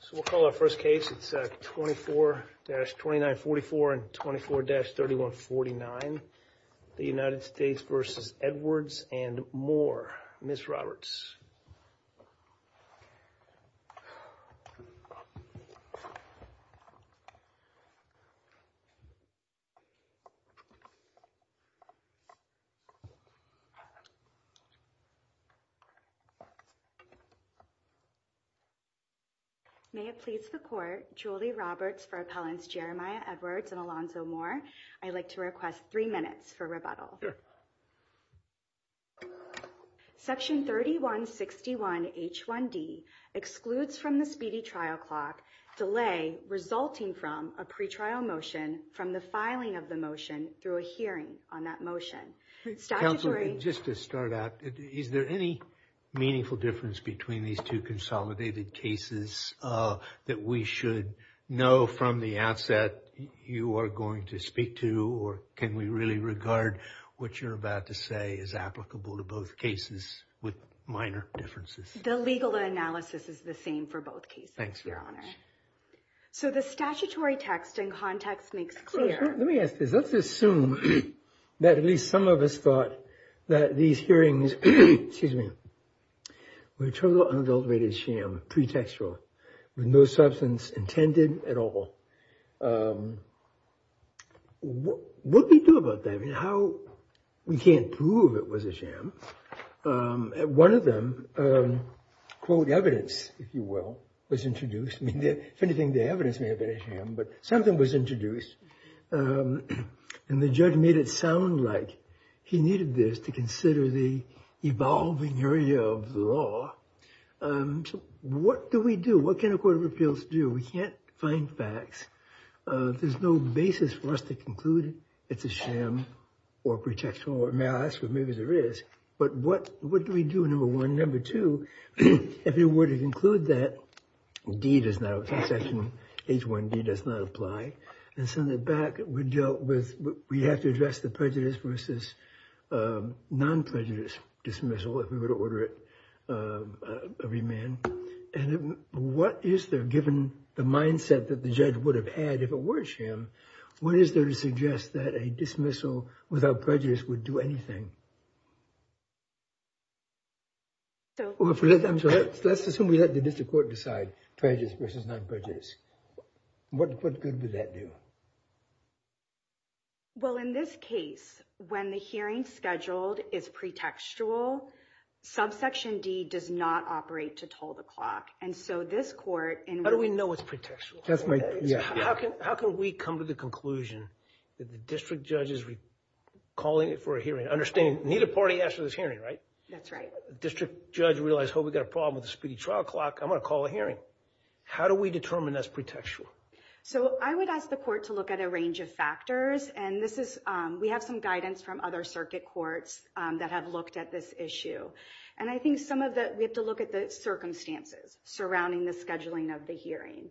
So we'll call our first case. It's 24-2944 and 24-3149. The United States v. Edwards and Moore. Ms. Roberts. May it please the court, Julie Roberts for appellants Jeremiah Edwards and Alonzo Moore. I'd like to request three minutes for rebuttal. Section 3161 H1D excludes from the speedy trial clock delay resulting from a pretrial motion from the filing of the motion through a hearing on that motion. Statutory. Just to start out, is there any meaningful difference between these two consolidated cases that we should know from the outset you are going to speak to or can we really regard what you're about to say is applicable to both cases with minor differences? The legal analysis is the same for both cases, your honor. So the statutory text and context makes clear. Let me ask this. Let's assume that at least some of us thought that these hearings, excuse me, were a total unadulterated sham, pretextual, with no substance intended at all. What do we do about that? I mean, how? We can't prove it was a sham. One of them, quote, evidence, if you will, was introduced. I mean, if anything, the evidence may have been a sham, but something was introduced. And the judge made it sound like he needed this to consider the evolving area of the law. What do we do? What can a court of appeals do? We can't find facts. There's no basis for us to conclude it's a sham or pretextual. May I ask what maybe there is? But what do we do, number one? Number two, if it were to conclude that D does not apply, section H1D does not apply, and send it back, we have to address the prejudice versus non-prejudice dismissal, if we were to order it everyman. And what is there, given the mindset that the judge would have had if it were a sham, what is there to suggest that a dismissal without prejudice would do anything? Let's assume we let the district court decide prejudice versus non-prejudice. What good would that do? Well, in this case, when the hearing scheduled is pretextual, subsection D does not operate to toll the clock. And so this court... How do we know it's pretextual? How can we come to the conclusion that the district judge is calling it for a hearing, understanding neither party asked for this hearing, right? That's right. District judge realized, oh, we got a problem with the speedy trial clock. I'm going to call a hearing. How do we determine that's pretextual? So I would ask the court to look at a range of factors. And this is... We have some guidance from other circuit courts that have looked at this issue. And I think some of the... We have to look at the circumstances surrounding the scheduling of the hearing.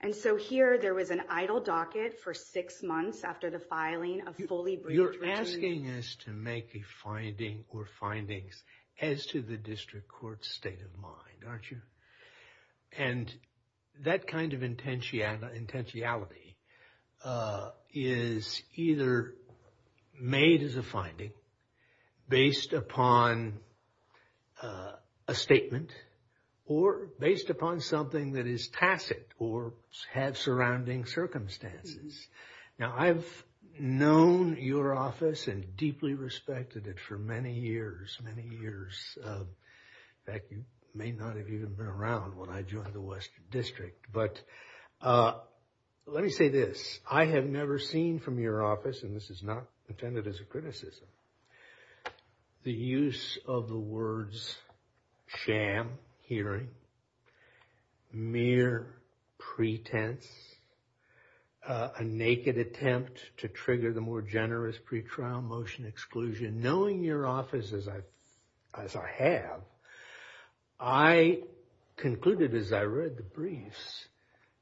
And so here, there was an idle docket for six months after the filing of fully... You're asking us to make a finding or findings as to the district court's state of mind, aren't you? And that kind of intentionality is either made as a finding based upon a statement or based upon something that is tacit or has surrounding circumstances. Now, I've known your office and deeply respected it for many years, many years. In fact, you may not have even been around when I joined the Western District. But let me say this. I have never seen from your office, and this is not intended as a criticism, the use of the words sham, hearing, mere pretense, a naked attempt to trigger the more generous pre-trial motion exclusion. Knowing your office as I have, I concluded as I read the briefs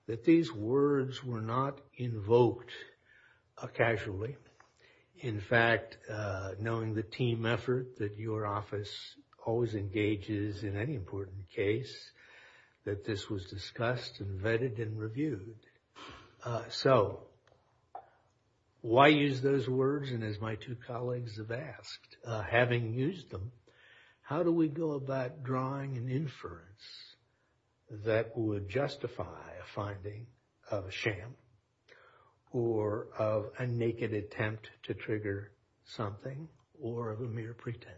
that these words were not invoked casually. In fact, knowing the team effort that your office always engages in any important case, that this was discussed and vetted and reviewed. So why use those words? And as my two colleagues have asked, having used them, how do we go about drawing an inference that would justify a finding of a sham or of a naked attempt to trigger something or of a mere pretense?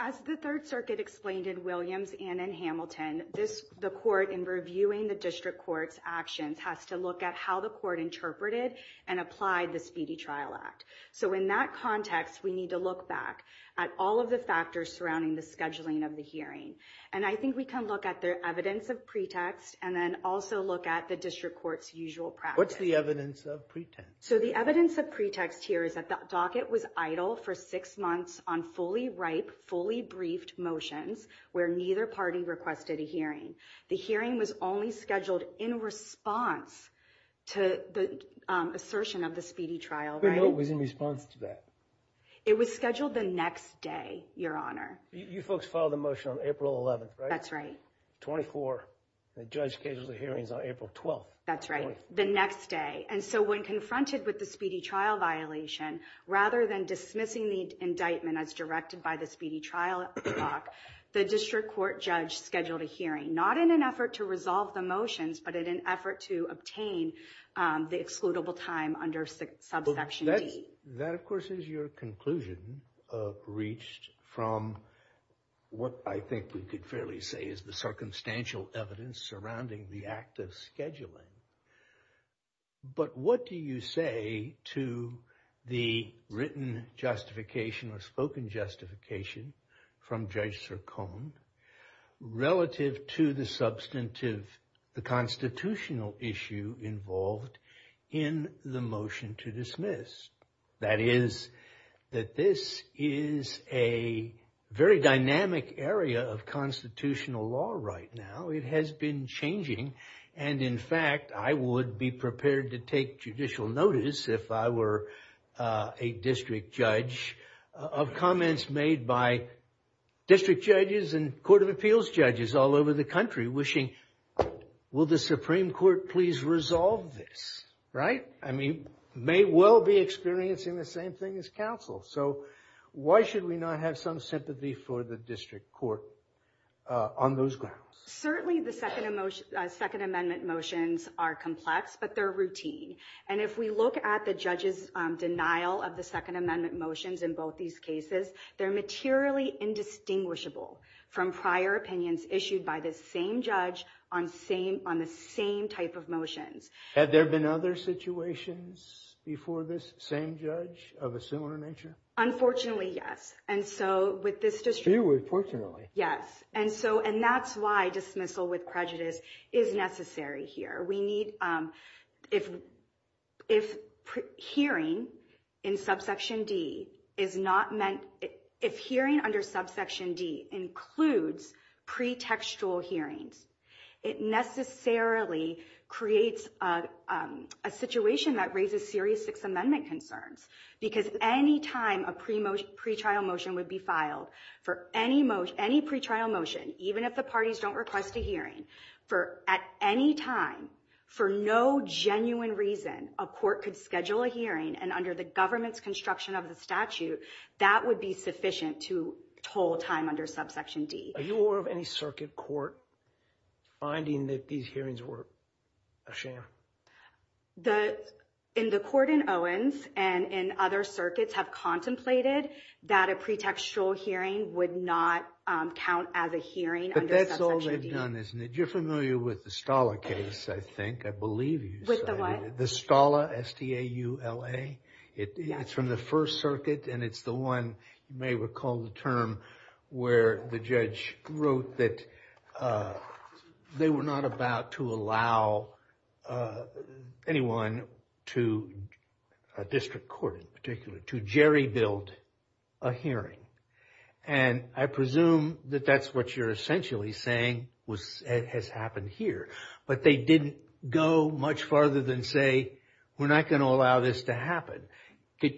As the Third Circuit explained in Williams and in Hamilton, the court in reviewing the district court's actions has to look at how the court interpreted and applied the Speedy Trial Act. So in that context, we need to look back at all of the factors surrounding the scheduling of the hearing. And I think we can look at the evidence of pretext and then also look at the district court's usual practice. What's the evidence of pretext? So the evidence of pretext here is that the docket was idle for six months on fully ripe, fully briefed motions where neither party requested a hearing. The hearing was only scheduled in response to the assertion of the Speedy Trial. Who knew it was in response to that? It was scheduled the next day, your honor. You folks filed a motion on April 11th, right? That's right. 24. The judge scheduled the hearings on April 12th. That's right. The next day. And so when confronted with the Speedy Trial violation, rather than dismissing the indictment as directed by the Speedy Trial Act, the district court judge scheduled a hearing, not in an effort to resolve the motions, but in an effort to obtain the excludable time under subsection D. That, of course, is your conclusion reached from what I think we could fairly say is the circumstantial evidence surrounding the act of scheduling. But what do you say to the written justification or spoken justification from Judge Sircone relative to the substantive, the constitutional issue involved in the motion to dismiss? That is that this is a very dynamic area of constitutional law right now. It has been changing. And in fact, I would be prepared to take judicial notice if I were a district judge of comments made by district judges and court of appeals judges all over the country wishing, will the Supreme Court please resolve this? Right? I mean, may well be experiencing the same thing as counsel. So why should we not have some sympathy for the district court on those grounds? Certainly the Second Amendment motions are complex, but they're routine. And if we look at the judge's denial of the Second Amendment motions in both these cases, they're materially indistinguishable from prior opinions issued by the same judge on the same type of motions. Had there been other situations before this same judge of a similar nature? Unfortunately, yes. And so with this district court. Yes. And that's why dismissal with prejudice is necessary here. If hearing under subsection D includes pre-textual hearings, it necessarily creates a situation that raises serious Sixth Amendment concerns. Because any time a pre-trial motion would be filed for any pre-trial motion, even if the parties don't request a hearing, for at any time, for no genuine reason, a court could schedule a hearing and under the government's construction of the statute, that would be sufficient to toll time under subsection D. Are you aware of any circuit court finding that these hearings were a shame? In the court in Owens and in other circuits have contemplated that a pre-textual hearing would not count as a hearing under subsection D. But that's all they've done, isn't it? You're familiar with the Stala case, I think. I believe you. With the what? The Stala, S-T-A-U-L-A. It's from the First Circuit and it's the one, you may recall the term, where the judge wrote that they were not about to allow anyone to, a district court in particular, to jerry-build a hearing. And I presume that that's what you're essentially saying has happened here. But they didn't go much farther than say, we're not going to allow this to happen.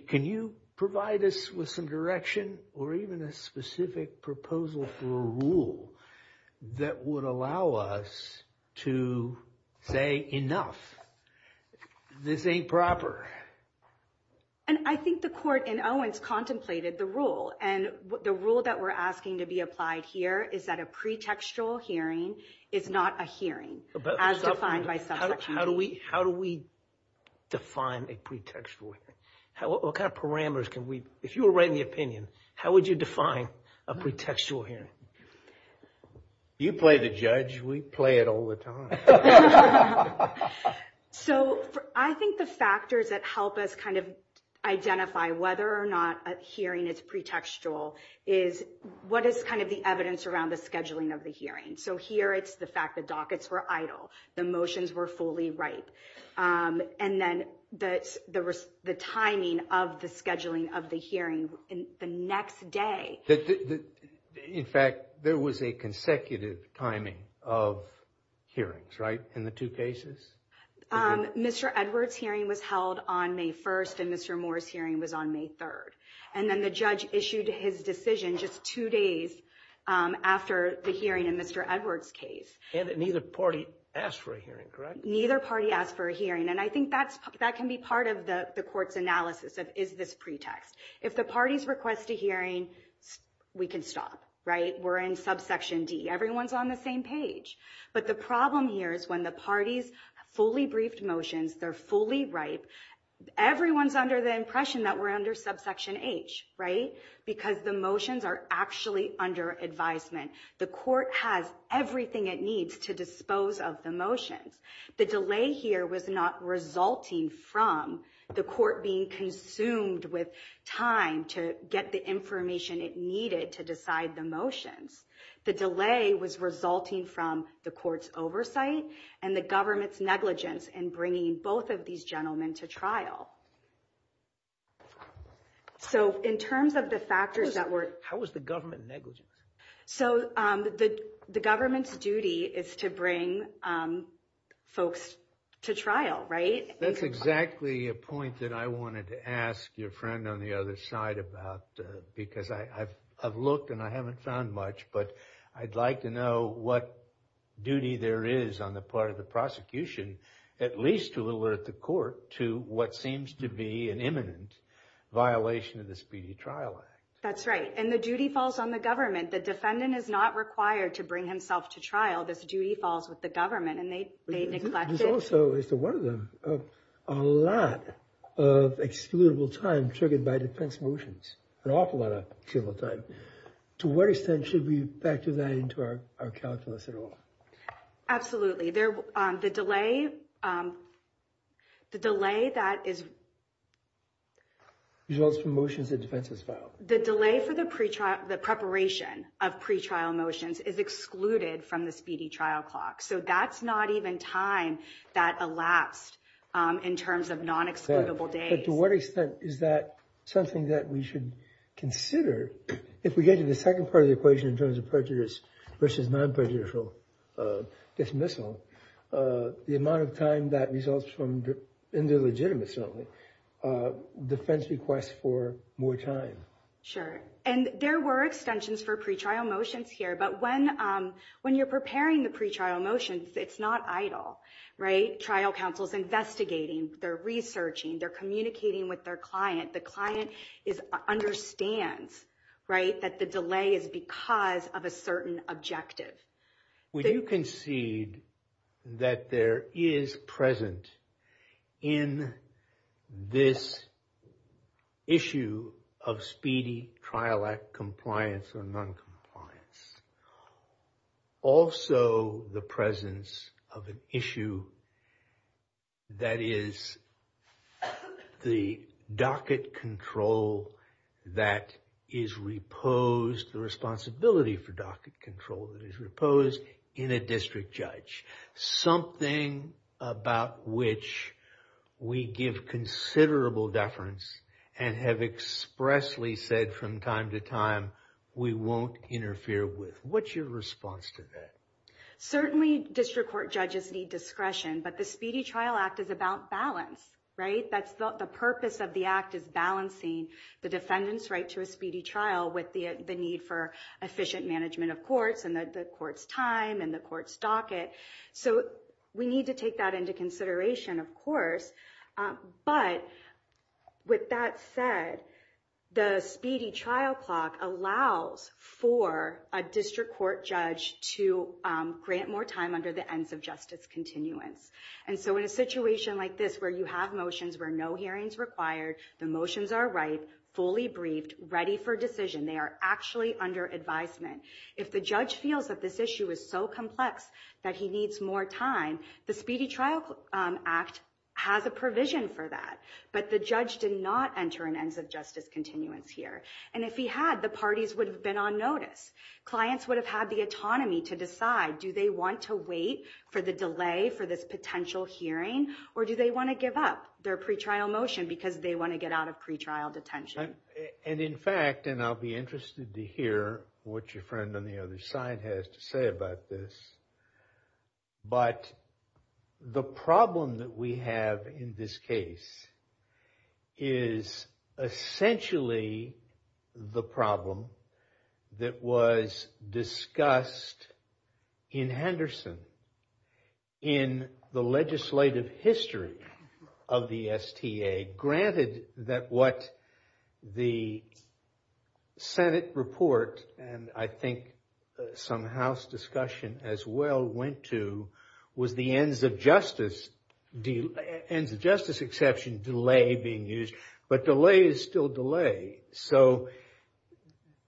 Can you provide us with some direction or even a specific proposal for a rule that would allow us to say, enough, this ain't proper? And I think the court in Owens contemplated the rule. And the rule that we're asking to be applied here is that a pre-textual hearing is not a hearing as defined by subsection D. How do we define a pre-textual hearing? What kind of parameters can we, if you were writing the opinion, how would you define a pre-textual hearing? You play the judge, we play it all the time. So I think the factors that help us kind of identify whether or not a hearing is pre-textual is what is kind of the evidence around the scheduling of the hearing. So here it's the dockets were idle, the motions were fully ripe. And then the timing of the scheduling of the hearing the next day. In fact, there was a consecutive timing of hearings, right? In the two cases? Mr. Edwards' hearing was held on May 1st and Mr. Moore's hearing was on May 3rd. And then the judge issued his decision just two days after the hearing in Mr. Edwards' case. And neither party asked for a hearing, correct? Neither party asked for a hearing. And I think that can be part of the court's analysis of is this pre-text. If the parties request a hearing, we can stop, right? We're in subsection D. Everyone's on the same page. But the problem here is when the parties fully briefed motions, they're fully ripe, everyone's under the impression that we're under subsection H, right? Because the motions are actually under advisement. The court has everything it needs to dispose of the motions. The delay here was not resulting from the court being consumed with time to get the information it needed to decide the motions. The delay was resulting from the court's oversight and the government's negligence in bringing both of these gentlemen to trial. So in terms of the factors that were... How was the government negligent? So the government's duty is to bring folks to trial, right? That's exactly a point that I wanted to ask your friend on the other side about because I've looked and I haven't found much. But I'd like to know what duty there is on the part of the prosecution at least to alert the court to what seems to be an imminent violation of the Speedy Trial Act. That's right. And the duty falls on the government. The defendant is not required to bring himself to trial. This duty falls with the government and they neglect it. There's also, as to one of them, a lot of excludable time triggered by defense motions. An awful lot of excludable time. To what extent should we factor that into our calculus at all? Absolutely. The delay that is... Results from motions the defense has filed. The delay for the pre-trial, the preparation of pre-trial motions is excluded from the speedy trial clock. So that's not even time that elapsed in terms of non-excludable days. But to what extent is that something that we should consider if we get to the second part of the equation in terms of prejudice versus non-prejudicial dismissal, the amount of time that results from, in the legitimacy of it, defense requests for more time? Sure. And there were extensions for pre-trial motions here. But when you're preparing the pre-trial motions, it's not idle, right? Trial counsel's investigating, they're researching, they're communicating with their client. The client understands that the delay is because of a certain objective. Would you concede that there is present in this issue of speedy trial act compliance or non-compliance, also the presence of an issue that is the docket control that is reposed, the responsibility for docket control that is reposed in a district judge? Something about which we give considerable deference and have expressly said from time to time, we won't interfere with. What's your response to that? Certainly district court judges need discretion, but the Speedy Trial Act is about balance, right? That's the purpose of the act is balancing the defendant's right to a speedy trial with the need for efficient management of courts and the court's time and the court's docket. So we need to take that into consideration, of course. But with that said, the speedy trial clock allows for a district court judge to grant more time under the ends of justice continuance. And so in a situation like this, where you have motions where no hearing's required, the motions are ripe, fully briefed, ready for decision, they are actually under advisement. If the judge feels that this issue is so complex that he needs more time, the Speedy Trial Act has a provision for that. But the judge did not enter an ends of justice continuance here. And if he had, the parties would have been on notice. Clients would have had the autonomy to decide, do they want to wait for the delay for this potential hearing, or do they want to give up their pre-trial motion because they want to get out of pre-trial detention? And in fact, and I'll be interested to hear what your friend on the other side has to say about this, but the problem that we have in this case is essentially the problem that was discussed in Henderson in the legislative history of the STA, granted that what the Senate report, and I think some House discussion as well, went to was the ends of justice exception delay being used. But delay is still delay. So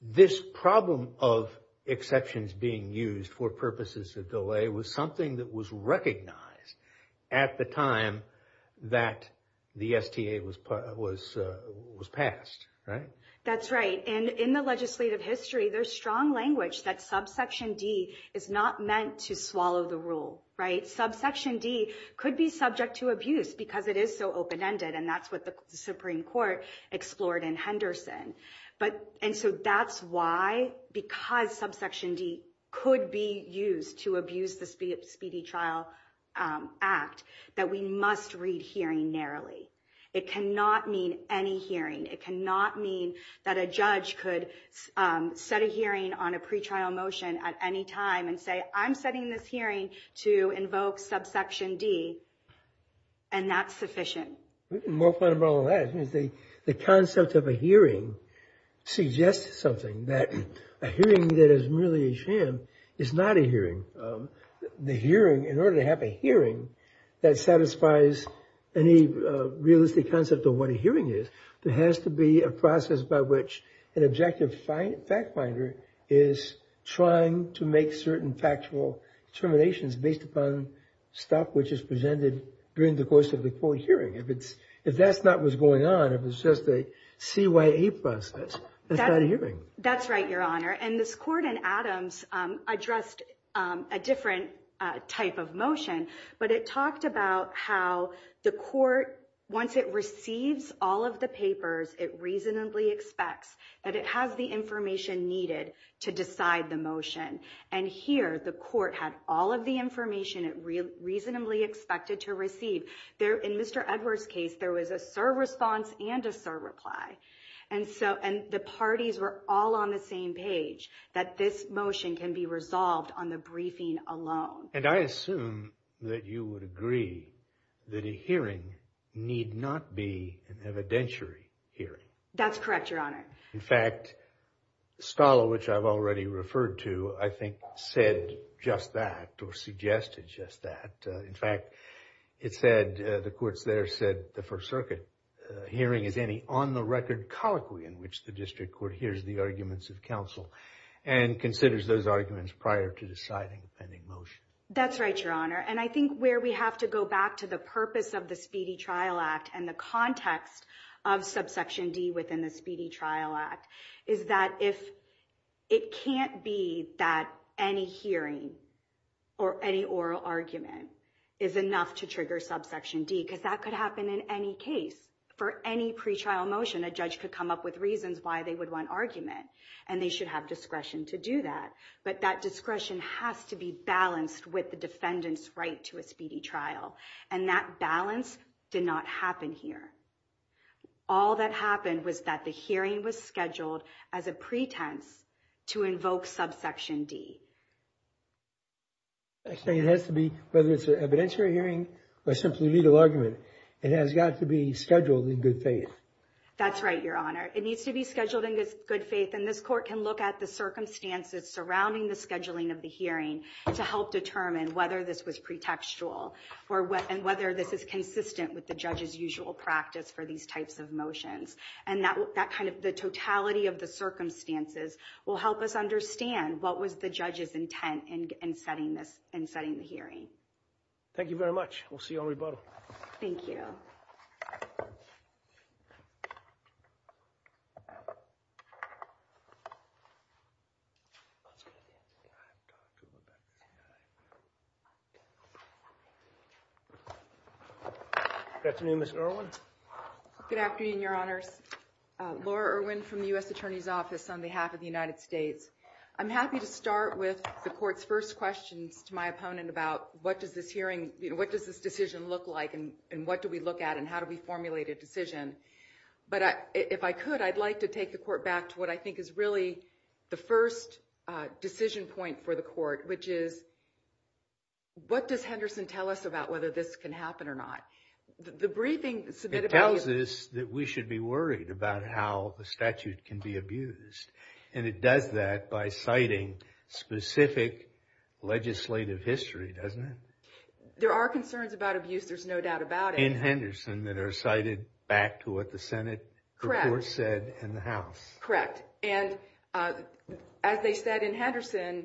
this problem of exceptions being used for purposes of delay was something that was recognized at the time that the STA was passed. That's right. And in the legislative history, there's strong language that subsection D is not meant to swallow the rule. Subsection D could be subject to abuse because it is so open-ended. And that's what the Supreme Court explored in Henderson. And so that's why, because subsection D could be used to abuse the Speedy Trial Act, that we must read hearing narrowly. It cannot mean any hearing. It cannot mean that a judge could set a hearing on a pre-trial motion at any time and say, I'm setting this hearing to invoke subsection D. And that's sufficient. More fundamentally than that, the concept of a hearing suggests something, that a hearing that is merely a sham is not a hearing. The hearing, in order to have a hearing that satisfies any realistic concept of what a hearing is, there has to be a process by which an objective fact finder is trying to make certain factual determinations based upon stuff which is presented during the course of the court hearing. If that's not what's going on, if it's just a CYA process, that's not a hearing. That's right, Your Honor. And this court in Adams addressed a different type of motion. But it talked about how the court, once it receives all of the papers, it reasonably expects that it has the information needed to decide the motion. And here, the court had all of the information it reasonably expected to receive. In Mr. Edwards' case, there was a sir response and a sir reply. And the parties were all on the same page, that this motion can be resolved on the briefing alone. And I assume that you would agree that a hearing need not be an evidentiary hearing. That's correct, Your Honor. In fact, Scala, which I've already referred to, I think said just that or suggested just that. In fact, it said, the courts there said the First Circuit hearing is any on-the-record colloquy in which the district court hears the arguments of counsel and considers those arguments prior to deciding the pending motion. That's right, Your Honor. And I think where we have to go back to the purpose of the Speedy Trial Act and the context of subsection D within the Speedy Trial Act is that if it can't be that any hearing or any oral argument is enough to trigger subsection D, because that could happen in any case. For any pretrial motion, a judge could come up with reasons why they would want argument, and they should have discretion to do that. But that discretion has to be balanced with the defendant's right to a speedy trial. And that balance did not happen here. All that happened was that the hearing was scheduled as a pretense to invoke subsection D. I say it has to be, whether it's an evidentiary hearing or simply a legal argument, it has got to be scheduled in good faith. That's right, Your Honor. It needs to be scheduled in good faith, and this court can look at the circumstances surrounding the scheduling of the hearing to help determine whether this was pretextual and whether this is consistent with judge's usual practice for these types of motions. And the totality of the circumstances will help us understand what was the judge's intent in setting the hearing. Thank you very much. We'll see you on rebuttal. Thank you. Good afternoon, Ms. Irwin. Good afternoon, Your Honors. Laura Irwin from the U.S. Attorney's Office on behalf of the United States. I'm happy to start with the court's first questions to my opponent about what does this hearing, what does this decision look like, and what do we look at, and how do we formulate a decision. But if I could, I'd like to take the court back to what I think is really the first decision point for the court, which is, what does Henderson tell us about whether this can happen or not? The briefing submitted by you... It tells us that we should be worried about how the statute can be abused. And it does that by citing specific legislative history, doesn't it? There are concerns about abuse, there's no doubt about it. In Henderson, that are cited back to what the Senate report said in the House. Correct. And as they said in Henderson,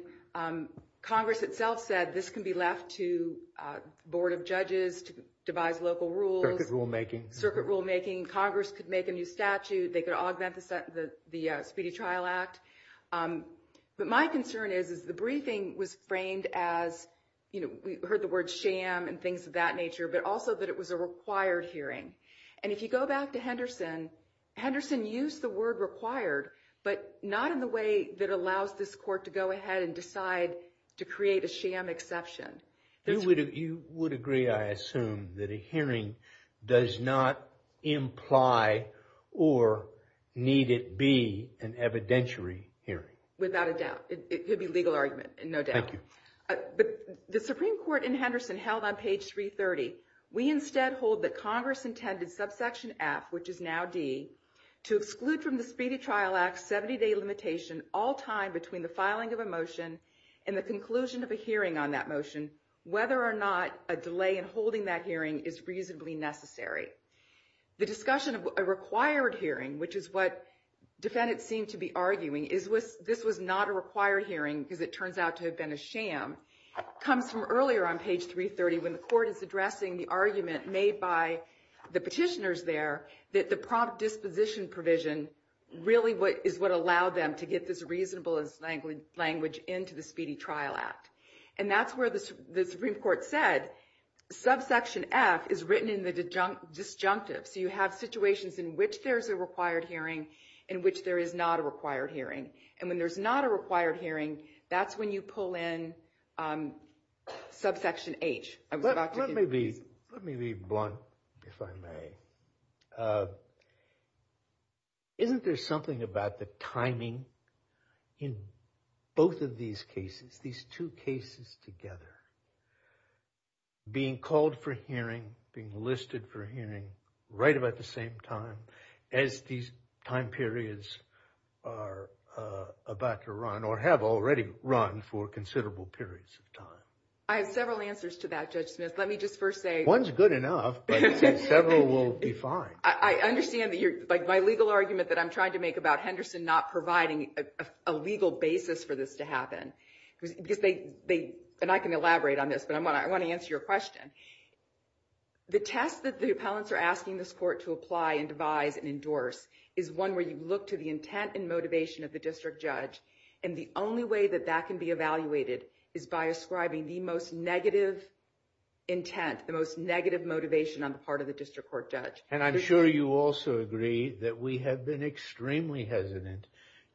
Congress itself said this can be left to Board of Judges to devise local rules. Circuit rulemaking, Congress could make a new statute, they could augment the Speedy Trial Act. But my concern is, is the briefing was framed as, you know, we heard the word sham and things of that nature, but also that it was a required hearing. And if you go back to Henderson, Henderson used the word required, but not in the way that allows this court to go ahead and decide to create a sham exception. You would agree, I assume, that a hearing does not imply or need it be an evidentiary hearing? Without a doubt. It could be a legal argument, no doubt. Thank you. But the Supreme Court in Henderson held on page 330, we instead hold that Congress intended subsection F, which is now D, to exclude from the Speedy Trial Act 70-day limitation all time between the filing of a motion and the conclusion of a hearing on that motion, whether or not a delay in holding that hearing is reasonably necessary. The discussion of a required hearing, which is what defendants seem to be arguing, is this was not a required hearing because it turns out to have been a sham, comes from earlier on page 330 when the court is addressing the argument made by the petitioners there that the prompt disposition provision really is what allowed them to get this reasonable language into the Speedy Trial Act. And that's where the Supreme Court said subsection F is written in the disjunctive. So you have situations in which there's a required hearing, in which there is not a required hearing. And when there's not a required hearing, that's when you pull in subsection H. Let me be blunt, if I may. Isn't there something about the timing in both of these cases, these two cases together, being called for hearing, being listed for hearing right about the same time as these time periods are about to run or have already run for considerable periods of time? I have several answers to that, Judge Smith. Let me just first say- I understand that you're, like my legal argument that I'm trying to make about Henderson not providing a legal basis for this to happen because they, and I can elaborate on this, but I want to answer your question. The test that the appellants are asking this court to apply and devise and endorse is one where you look to the intent and motivation of the district judge. And the only way that that can be evaluated is by ascribing the most negative intent, the most negative motivation on the part of the district court judge. And I'm sure you also agree that we have been extremely hesitant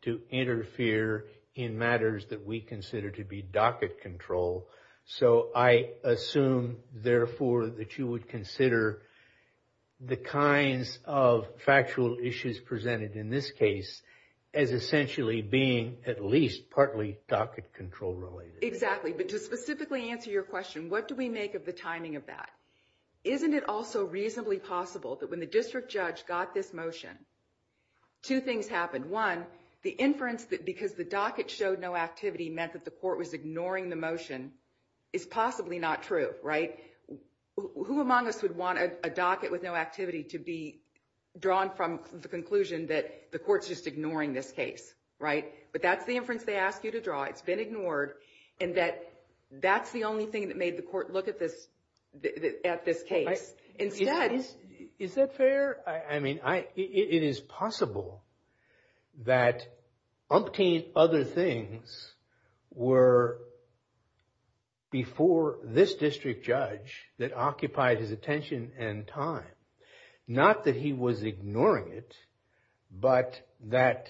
to interfere in matters that we consider to be docket control. So I assume therefore that you would consider the kinds of factual issues presented in this case as essentially being at least partly docket control related. Exactly. But to specifically answer your question, what do we make of the timing of that? Isn't it also reasonably possible that when the district judge got this motion, two things happened. One, the inference that because the docket showed no activity meant that the court was ignoring the motion is possibly not true, right? Who among us would want a docket with no activity to be drawn from the conclusion that the court's just ignoring this case, right? But that's the inference they ask you to draw. It's been ignored and that that's the only thing that made the court look at this case. Is that fair? I mean, it is possible that umpteen other things were before this district judge that occupied his attention and time. Not that he was ignoring it, but that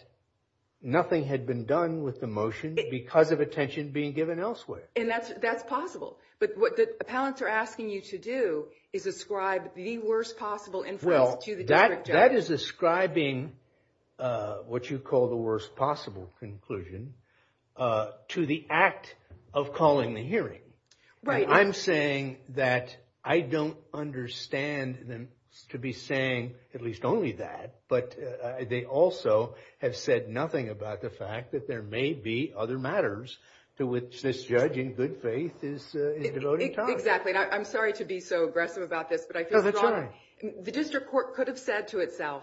nothing had been done with the motion because of attention being given elsewhere. And that's possible, but what the appellants are asking you to do is ascribe the worst possible inference to the district judge. That is ascribing what you call the worst possible conclusion to the act of calling the hearing. Right. I'm saying that I don't understand them to be saying at least only that, but they also have said nothing about the fact that there may be other matters to which this judge in good faith is devoting time. Exactly. I'm sorry to be so aggressive about this, but I feel that the district court could have said to itself,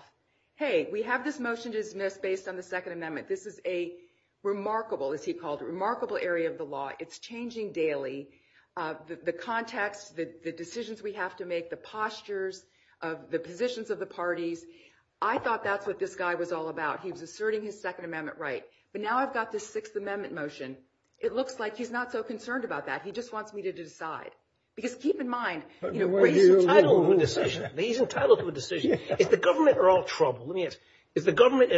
hey, we have this motion dismissed based on the second amendment. This is a remarkable, as he called it, remarkable area of the law. It's changing daily. The context, the decisions we have to make, the postures of the positions of the parties. I thought that's what this guy was all about. He was asserting his second amendment right. But now I've got this sixth amendment motion. It looks like he's not so concerned about that. He just wants me to decide. Because keep in mind, he's entitled to a decision. Is the government at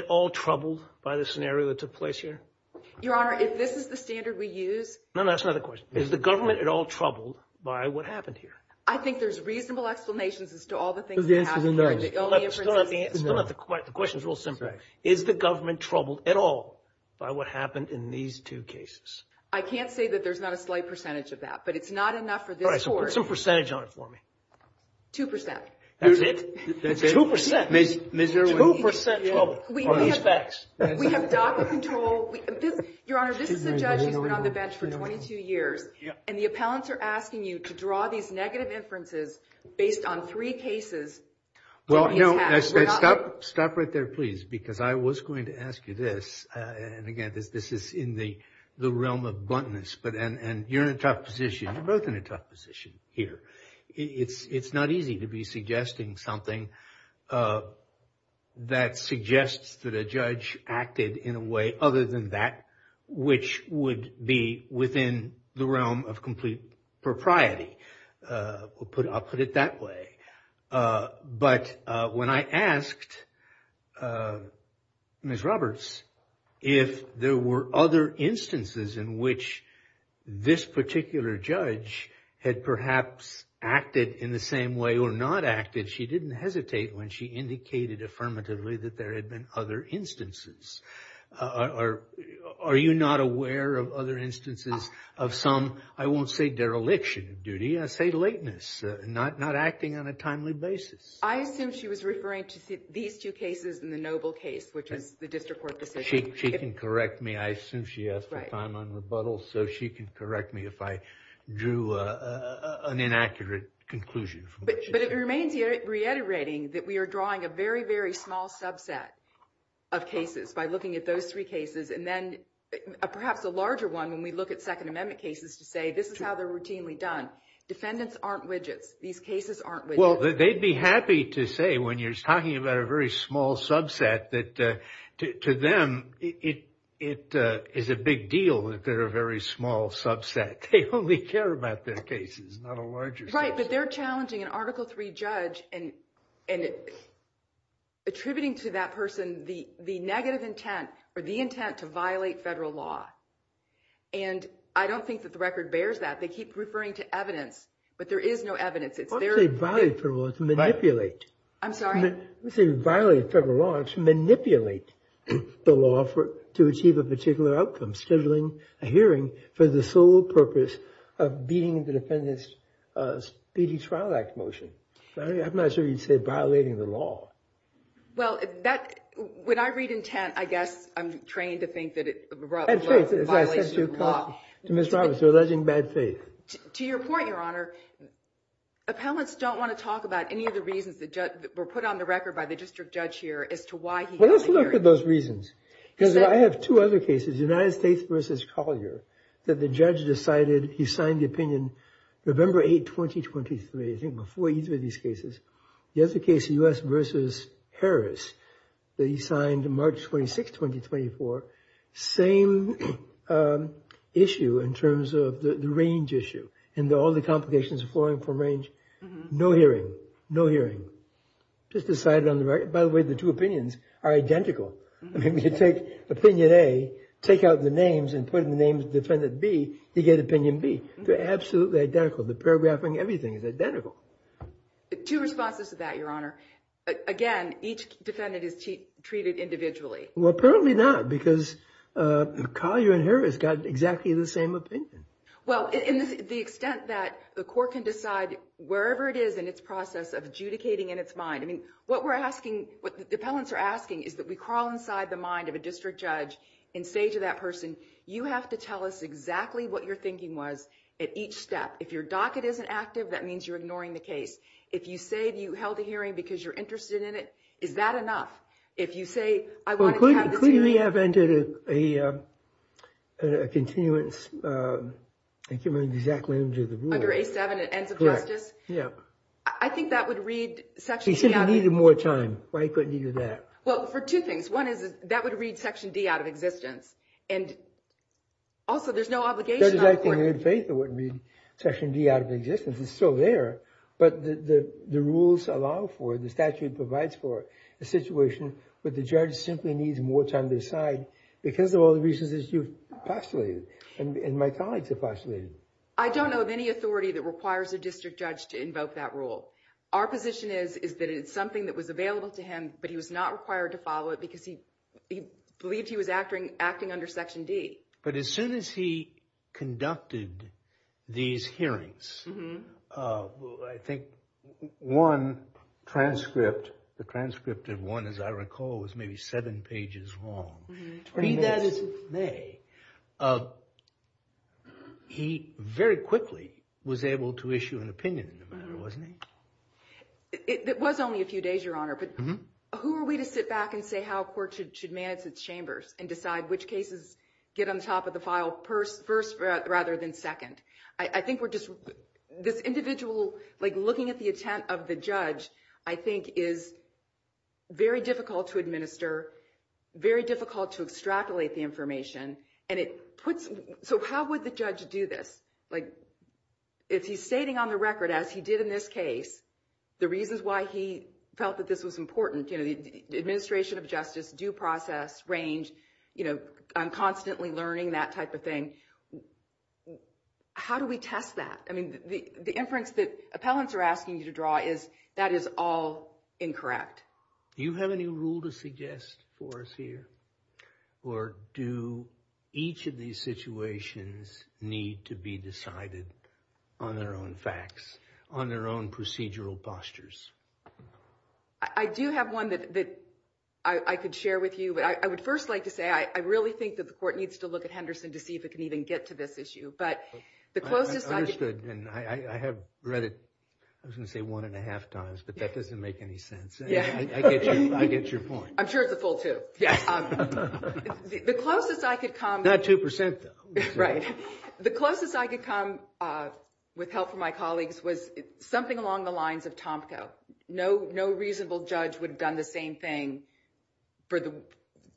all troubled by the scenario that took place here? Your honor, if this is the standard we use. No, that's another question. Is the government at all troubled by what happened here? I think there's reasonable explanations as to all the things that happened here. Still, the question is real simple. Is the government troubled at all by what happened in these two cases? I can't say that there's not a slight percentage of that. But it's not enough for this court. All right, so put some percentage on it for me. Two percent. That's it? Two percent. Two percent trouble on these facts. We have DACA control. Your honor, this is a judge who's been on the bench for 22 years. And the appellants are asking you to draw these negative inferences based on three cases. Well, no. Stop right there, please. Because I was going to ask you this. And again, this is in the realm of bluntness. And you're in a tough position. You're both in a tough position here. It's not easy to be suggesting something that suggests that a judge acted in a way other than that which would be within the realm of complete propriety. I'll put it that way. But when I asked Ms. Roberts if there were other instances in which this particular judge had perhaps acted in the same way or not acted, she didn't hesitate when she indicated affirmatively that there had been other instances. Are you not aware of other instances of some, I won't say dereliction of duty, say lateness, not acting on a timely basis? I assume she was referring to these two cases in the Noble case, which is the district court decision. She can correct me. I assume she has the time on rebuttal. So she can correct me if I drew an inaccurate conclusion. But it remains reiterating that we are drawing a very, very small subset of cases by looking at those three cases. And then perhaps a larger one when we look at Second Amendment cases to say, this is how they're routinely done. Defendants aren't widgets. These cases aren't widgets. Well, they'd be happy to say when you're talking about a very small subset that to them, it is a big deal that they're a very small subset. They only care about their cases, not a larger subset. Right. But they're challenging an Article III judge and attributing to that person the negative intent or the intent to violate federal law. And I don't think that the record bears that. They keep referring to evidence. But there is no evidence. It's their- I don't say violate federal law, it's manipulate. I'm sorry? We say violate federal law. It's manipulate the law to achieve a particular outcome, scheduling a hearing for the sole purpose of beating the Defendant's Speedy Trial Act motion. I'm not sure you'd say violating the law. Well, when I read intent, I guess I'm trained to think that it- Bad faith, as I said to Ms. Roberts, you're alleging bad faith. To your point, Your Honor, appellants don't want to talk about any of the reasons that were put on the record by the district judge here as to why he- Well, let's look at those reasons. Because I have two other cases, United States v. Collier, that the judge decided he signed the opinion November 8, 2023, I think before either of these cases. The other case, U.S. v. Harris, that he signed March 26, 2024, same issue in terms of the range issue and all the complications of flowing from range. No hearing. No hearing. Just decided on the record. By the way, the two opinions are identical. I mean, you take Opinion A, take out the names and put in the names of Defendant B, you get Opinion B. They're absolutely identical. The paragraphing, everything is identical. Two responses to that, Your Honor. Again, each defendant is treated individually. Well, apparently not because Collier and Harris got exactly the same opinion. Well, in the extent that the court can decide wherever it is in its process of adjudicating in its mind, I mean, what we're asking, what the appellants are asking is that we crawl inside the mind of a district judge and say to that person, you have to tell us exactly what your thinking was at each step. If your docket isn't active, that means you're ignoring the case. If you say you held a hearing because you're interested in it, is that enough? If you say, I wanted to have this hearing. Could he have entered a continuance, I can't remember the exact language of the rule. Under A7, Ends of Justice? Yeah. I think that would read Section C out of existence. He said he needed more time. Why couldn't he do that? Well, for two things. One is that would read Section D out of existence. And also, there's no obligation on the court. That is, I think, in good faith it wouldn't be Section D out of existence. It's still there. But the rules allow for, the statute provides for a situation where the judge simply needs more time to decide because of all the reasons that you've postulated and my colleagues have postulated. I don't know of any authority that requires a district judge to invoke that rule. Our position is that it's something that was available to him, but he was not required to follow it because he believed he was acting under Section D. But as soon as he conducted these hearings, I think one transcript, the transcript of one, as I recall, was maybe seven pages long. 20 minutes. Read that as it may. He very quickly was able to issue an opinion in the matter, wasn't he? It was only a few days, Your Honor. But who are we to sit back and say how a court should manage its chambers and decide which cases get on top of the file first rather than second? I think we're just, this individual, like looking at the intent of the judge, I think is very difficult to administer, very difficult to extrapolate the information. And it puts, so how would the judge do this? Like, if he's stating on the record, as he did in this case, the reasons why he felt that this was important, the administration of justice, due process, range, I'm constantly learning, that type of thing. How do we test that? I mean, the inference that appellants are asking you to draw is that is all incorrect. Do you have any rule to suggest for us here? Or do each of these situations need to be decided on their own facts, on their own procedural postures? I do have one that I could share with you. But I would first like to say, I really think that the court needs to look at Henderson to see if it can even get to this issue. But the closest I could. I understood. And I have read it, I was going to say, one and a half times. But that doesn't make any sense. I get your point. I'm sure it's a full two. The closest I could come. Not 2%, though. Right. The closest I could come, with help from my colleagues, was something along the lines of Tomko. No reasonable judge would have done the same thing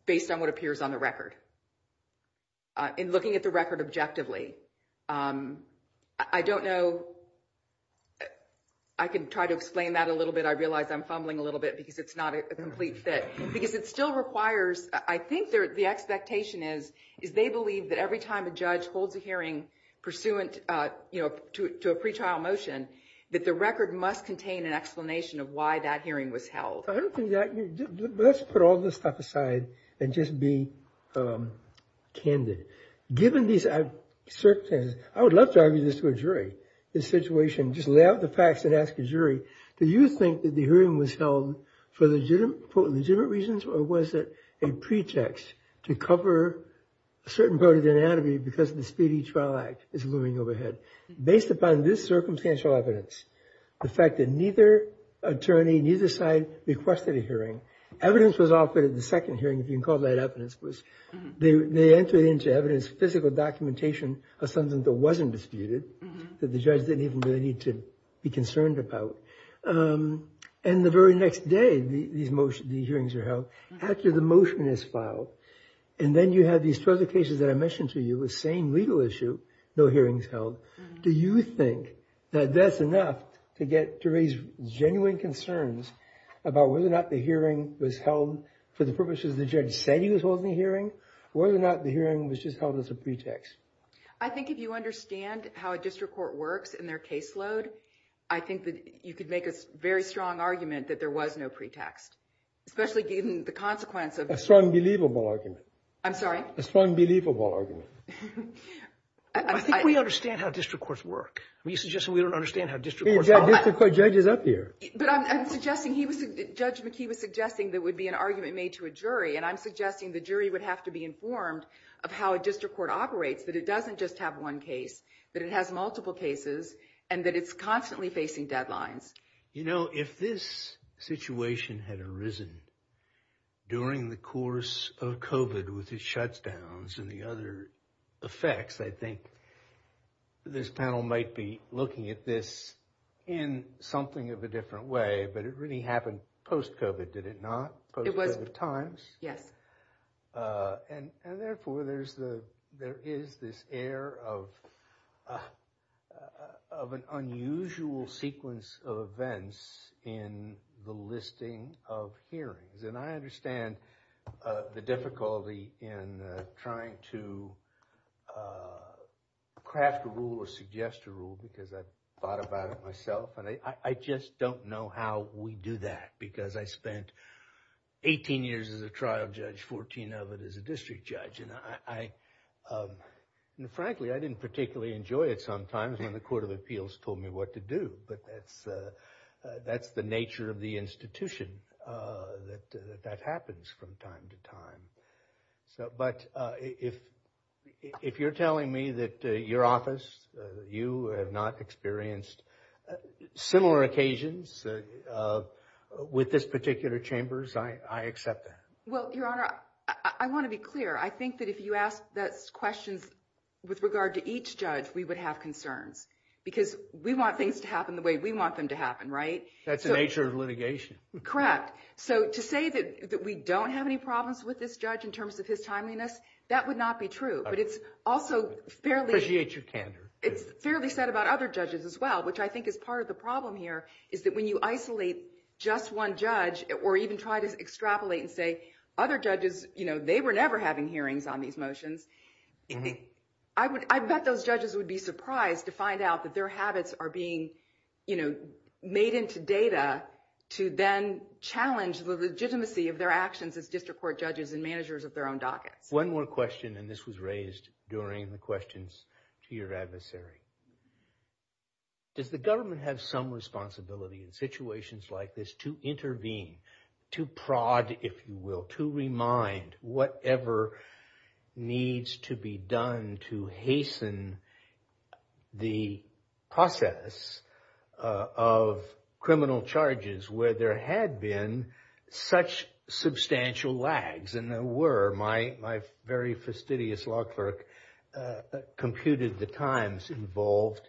based on what appears on the record. In looking at the record objectively, I don't know. I can try to explain that a little bit. I realize I'm fumbling a little bit because it's not a complete fit. Because it still requires, I think the expectation is they believe that every time a judge holds a hearing pursuant to a pretrial motion, that the record must contain an explanation of why that hearing was held. I don't think that, let's put all this stuff aside and just be candid. Given these circumstances, I would love to argue this to a jury. This situation, just lay out the facts and ask a jury, do you think that the hearing was held for legitimate reasons? Or was it a pretext to cover a certain part of the anatomy because the Speedy Trial Act is looming overhead? Based upon this circumstantial evidence, the fact that neither attorney, neither side, requested a hearing. Evidence was offered at the second hearing, if you can call that evidence. They entered into evidence physical documentation of something that wasn't disputed, that the judge didn't even really need to be concerned about. And the very next day, these hearings are held. After the motion is filed, and then you have these further cases that I mentioned to you, the same legal issue, no hearings held. Do you think that that's enough to get to raise genuine concerns about whether or not the hearing was held for the purposes the judge said he was holding a hearing? Or whether or not the hearing was just held as a pretext? I think if you understand how a district court works and their caseload, I think that you could make a very strong argument that there was no pretext. Especially given the consequence of... A strong, believable argument. I'm sorry? A strong, believable argument. I think we understand how district courts work. Are you suggesting we don't understand how district courts... We've got district court judges up here. But I'm suggesting, Judge McKee was suggesting there would be an argument made to a jury, and I'm suggesting the jury would have to be informed of how a district court operates, that it doesn't just have one case, that it has multiple cases, and that it's constantly facing deadlines. You know, if this situation had arisen during the course of COVID with its shutdowns and the other effects, I think this panel might be looking at this in something of a different way. But it really happened post-COVID, did it not? It was. Post-COVID times. Yes. And therefore, there is this air of an unusual sequence of events in the listing of hearings. And I understand the difficulty in trying to craft a rule or suggest a rule, because I've thought about it myself. I just don't know how we do that, because I spent 18 years as a trial judge, 14 of it as a district judge. And frankly, I didn't particularly enjoy it sometimes when the Court of Appeals told me what to do. But that's the nature of the institution, that that happens from time to time. But if you're telling me that your office, you have not experienced similar occasions with this particular chambers, I accept that. Well, Your Honor, I want to be clear. I think that if you asked those questions with regard to each judge, we would have concerns. Because we want things to happen the way we want them to happen, right? That's the nature of litigation. Correct. So to say that we don't have any problems with this judge in terms of his timeliness, that would not be true. But it's also fairly- Appreciate your candor. It's fairly said about other judges as well, which I think is part of the problem here, is that when you isolate just one judge or even try to extrapolate and say, other judges, they were never having hearings on these motions, I bet those judges would be surprised to find out that their habits are being made into data to then challenge the legitimacy of their actions as district court judges and managers of their own dockets. One more question, and this was raised during the questions to your adversary. Does the government have some responsibility in situations like this to intervene, to prod, if you will, to remind whatever needs to be done to hasten the process of criminal charges where there had been such substantial lags? And there were. My very fastidious law clerk computed the times involved,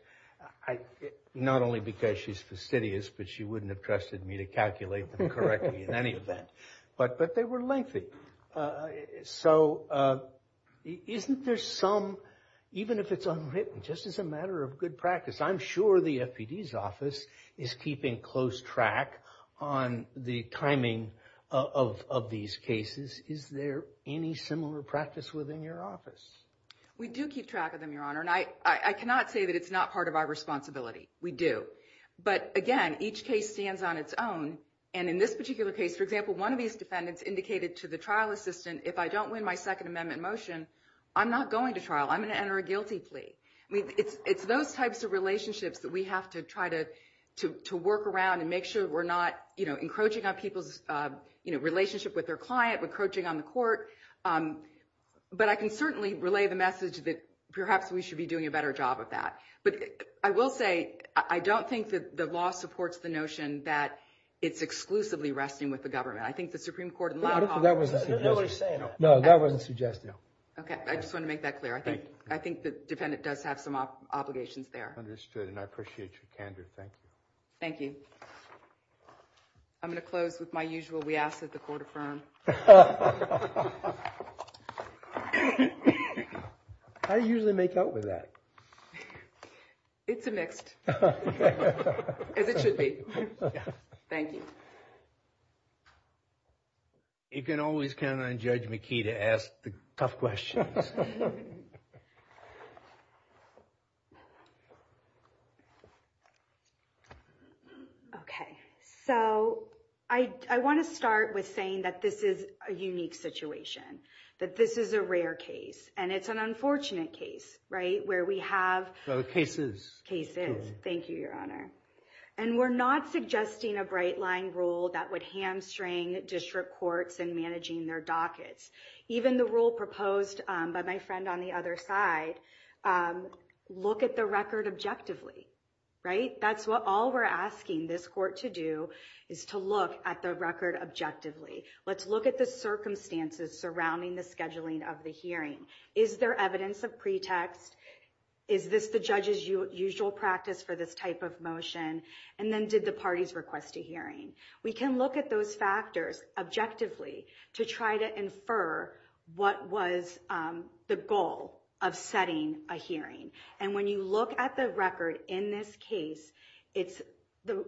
not only because she's fastidious, but she wouldn't have trusted me to calculate them correctly in any event. But they were lengthy. So isn't there some, even if it's unwritten, just as a matter of good practice, I'm sure the FPD's office is keeping close track on the timing of these cases. Is there any similar practice within your office? We do keep track of them, Your Honor. And I cannot say that it's not part of our responsibility. We do. But again, each case stands on its own. And in this particular case, for example, one of these defendants indicated to the trial assistant, if I don't win my Second Amendment motion, I'm not going to trial. I'm going to enter a guilty plea. I mean, it's those types of relationships that we have to try to work around and make sure we're not encroaching on people's relationship with their client, we're encroaching on the court. But I can certainly relay the message that perhaps we should be doing a better job of that. But I will say, I don't think that the law supports the notion that it's exclusively resting with the government. I think the Supreme Court in law offers that. No, that wasn't suggested. No, that wasn't suggested. OK, I just want to make that clear. I think the defendant does have some obligations there. And I appreciate your candor. Thank you. Thank you. I'm going to close with my usual, we ask that the court affirm. I usually make out with that. It's a mixed, as it should be. Thank you. You can always count on Judge McKee to ask the tough questions. OK, so I want to start with saying that this is a unique situation. That this is a rare case. And it's an unfortunate case, right? Where we have cases. Thank you, Your Honor. And we're not suggesting a bright line rule that would hamstring district courts in managing their dockets. Even the rule proposed by my friend on the other side, look at the record objectively, right? That's what all we're asking this court to do, is to look at the record objectively. Let's look at the circumstances surrounding the scheduling of the hearing. Is there evidence of pretext? Is this the judge's usual practice for this type of motion? And then did the parties request a hearing? We can look at those factors objectively to try to infer what was the goal of setting a hearing. And when you look at the record in this case, the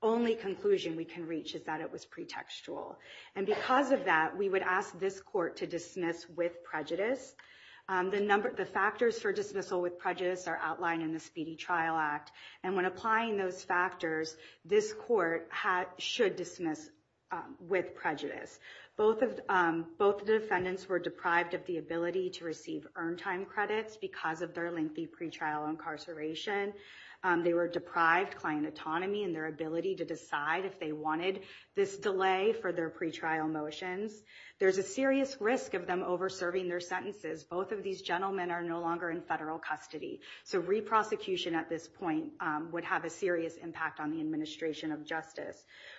only conclusion we can reach is that it was pretextual. And because of that, we would ask this court to dismiss with prejudice. The factors for dismissal with prejudice are outlined in the Speedy Trial Act. And when applying those factors, this court should dismiss with prejudice. Both defendants were deprived of the ability to receive earned time credits because of their lengthy pretrial incarceration. They were deprived client autonomy and their ability to decide if they wanted this delay for their pretrial motions. There's a serious risk of them over serving their sentences. Both of these gentlemen are no longer in federal custody. So re-prosecution at this point would have a serious impact on the administration of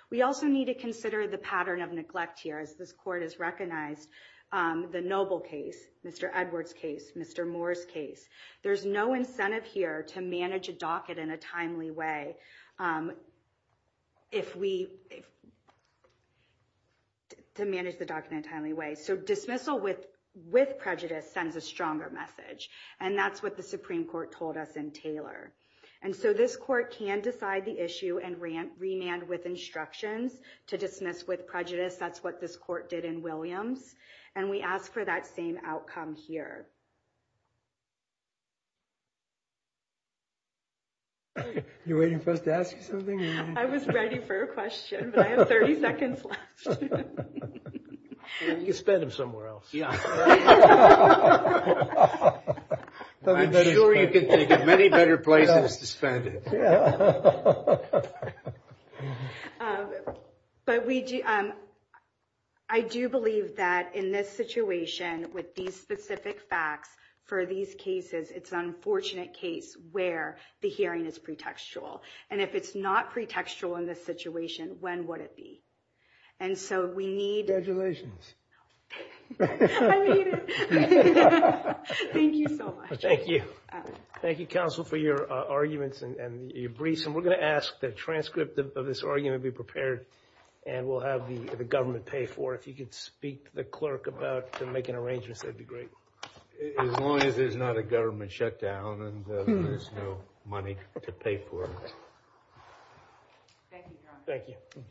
We also need to consider the pattern of neglect here, as this court has recognized the Noble case, Mr. Edwards' case, Mr. Moore's case. There's no incentive here to manage a docket in a timely way. If we, to manage the docket in a timely way. So dismissal with prejudice sends a stronger message. And that's what the Supreme Court told us in Taylor. And so this court can decide the issue and remand with instructions to dismiss with prejudice. That's what this court did in Williams. And we ask for that same outcome here. Are you waiting for us to ask you something? I was ready for a question, but I have 30 seconds left. You can spend them somewhere else. Yeah. I'm sure you can take many better places to spend it. Yeah. But I do believe that in this situation with these specific facts for these cases, it's an unfortunate case where the hearing is pretextual. And if it's not pretextual in this situation, when would it be? And so we need... I mean it. Thank you so much. Thank you. Thank you, counsel, for your arguments and your briefs. And we're going to ask that a transcript of this argument be prepared. And we'll have the government pay for it. If you could speak to the clerk about making arrangements, that'd be great. As long as there's not a government shutdown and there's no money to pay for it. Thank you, John. Thank you.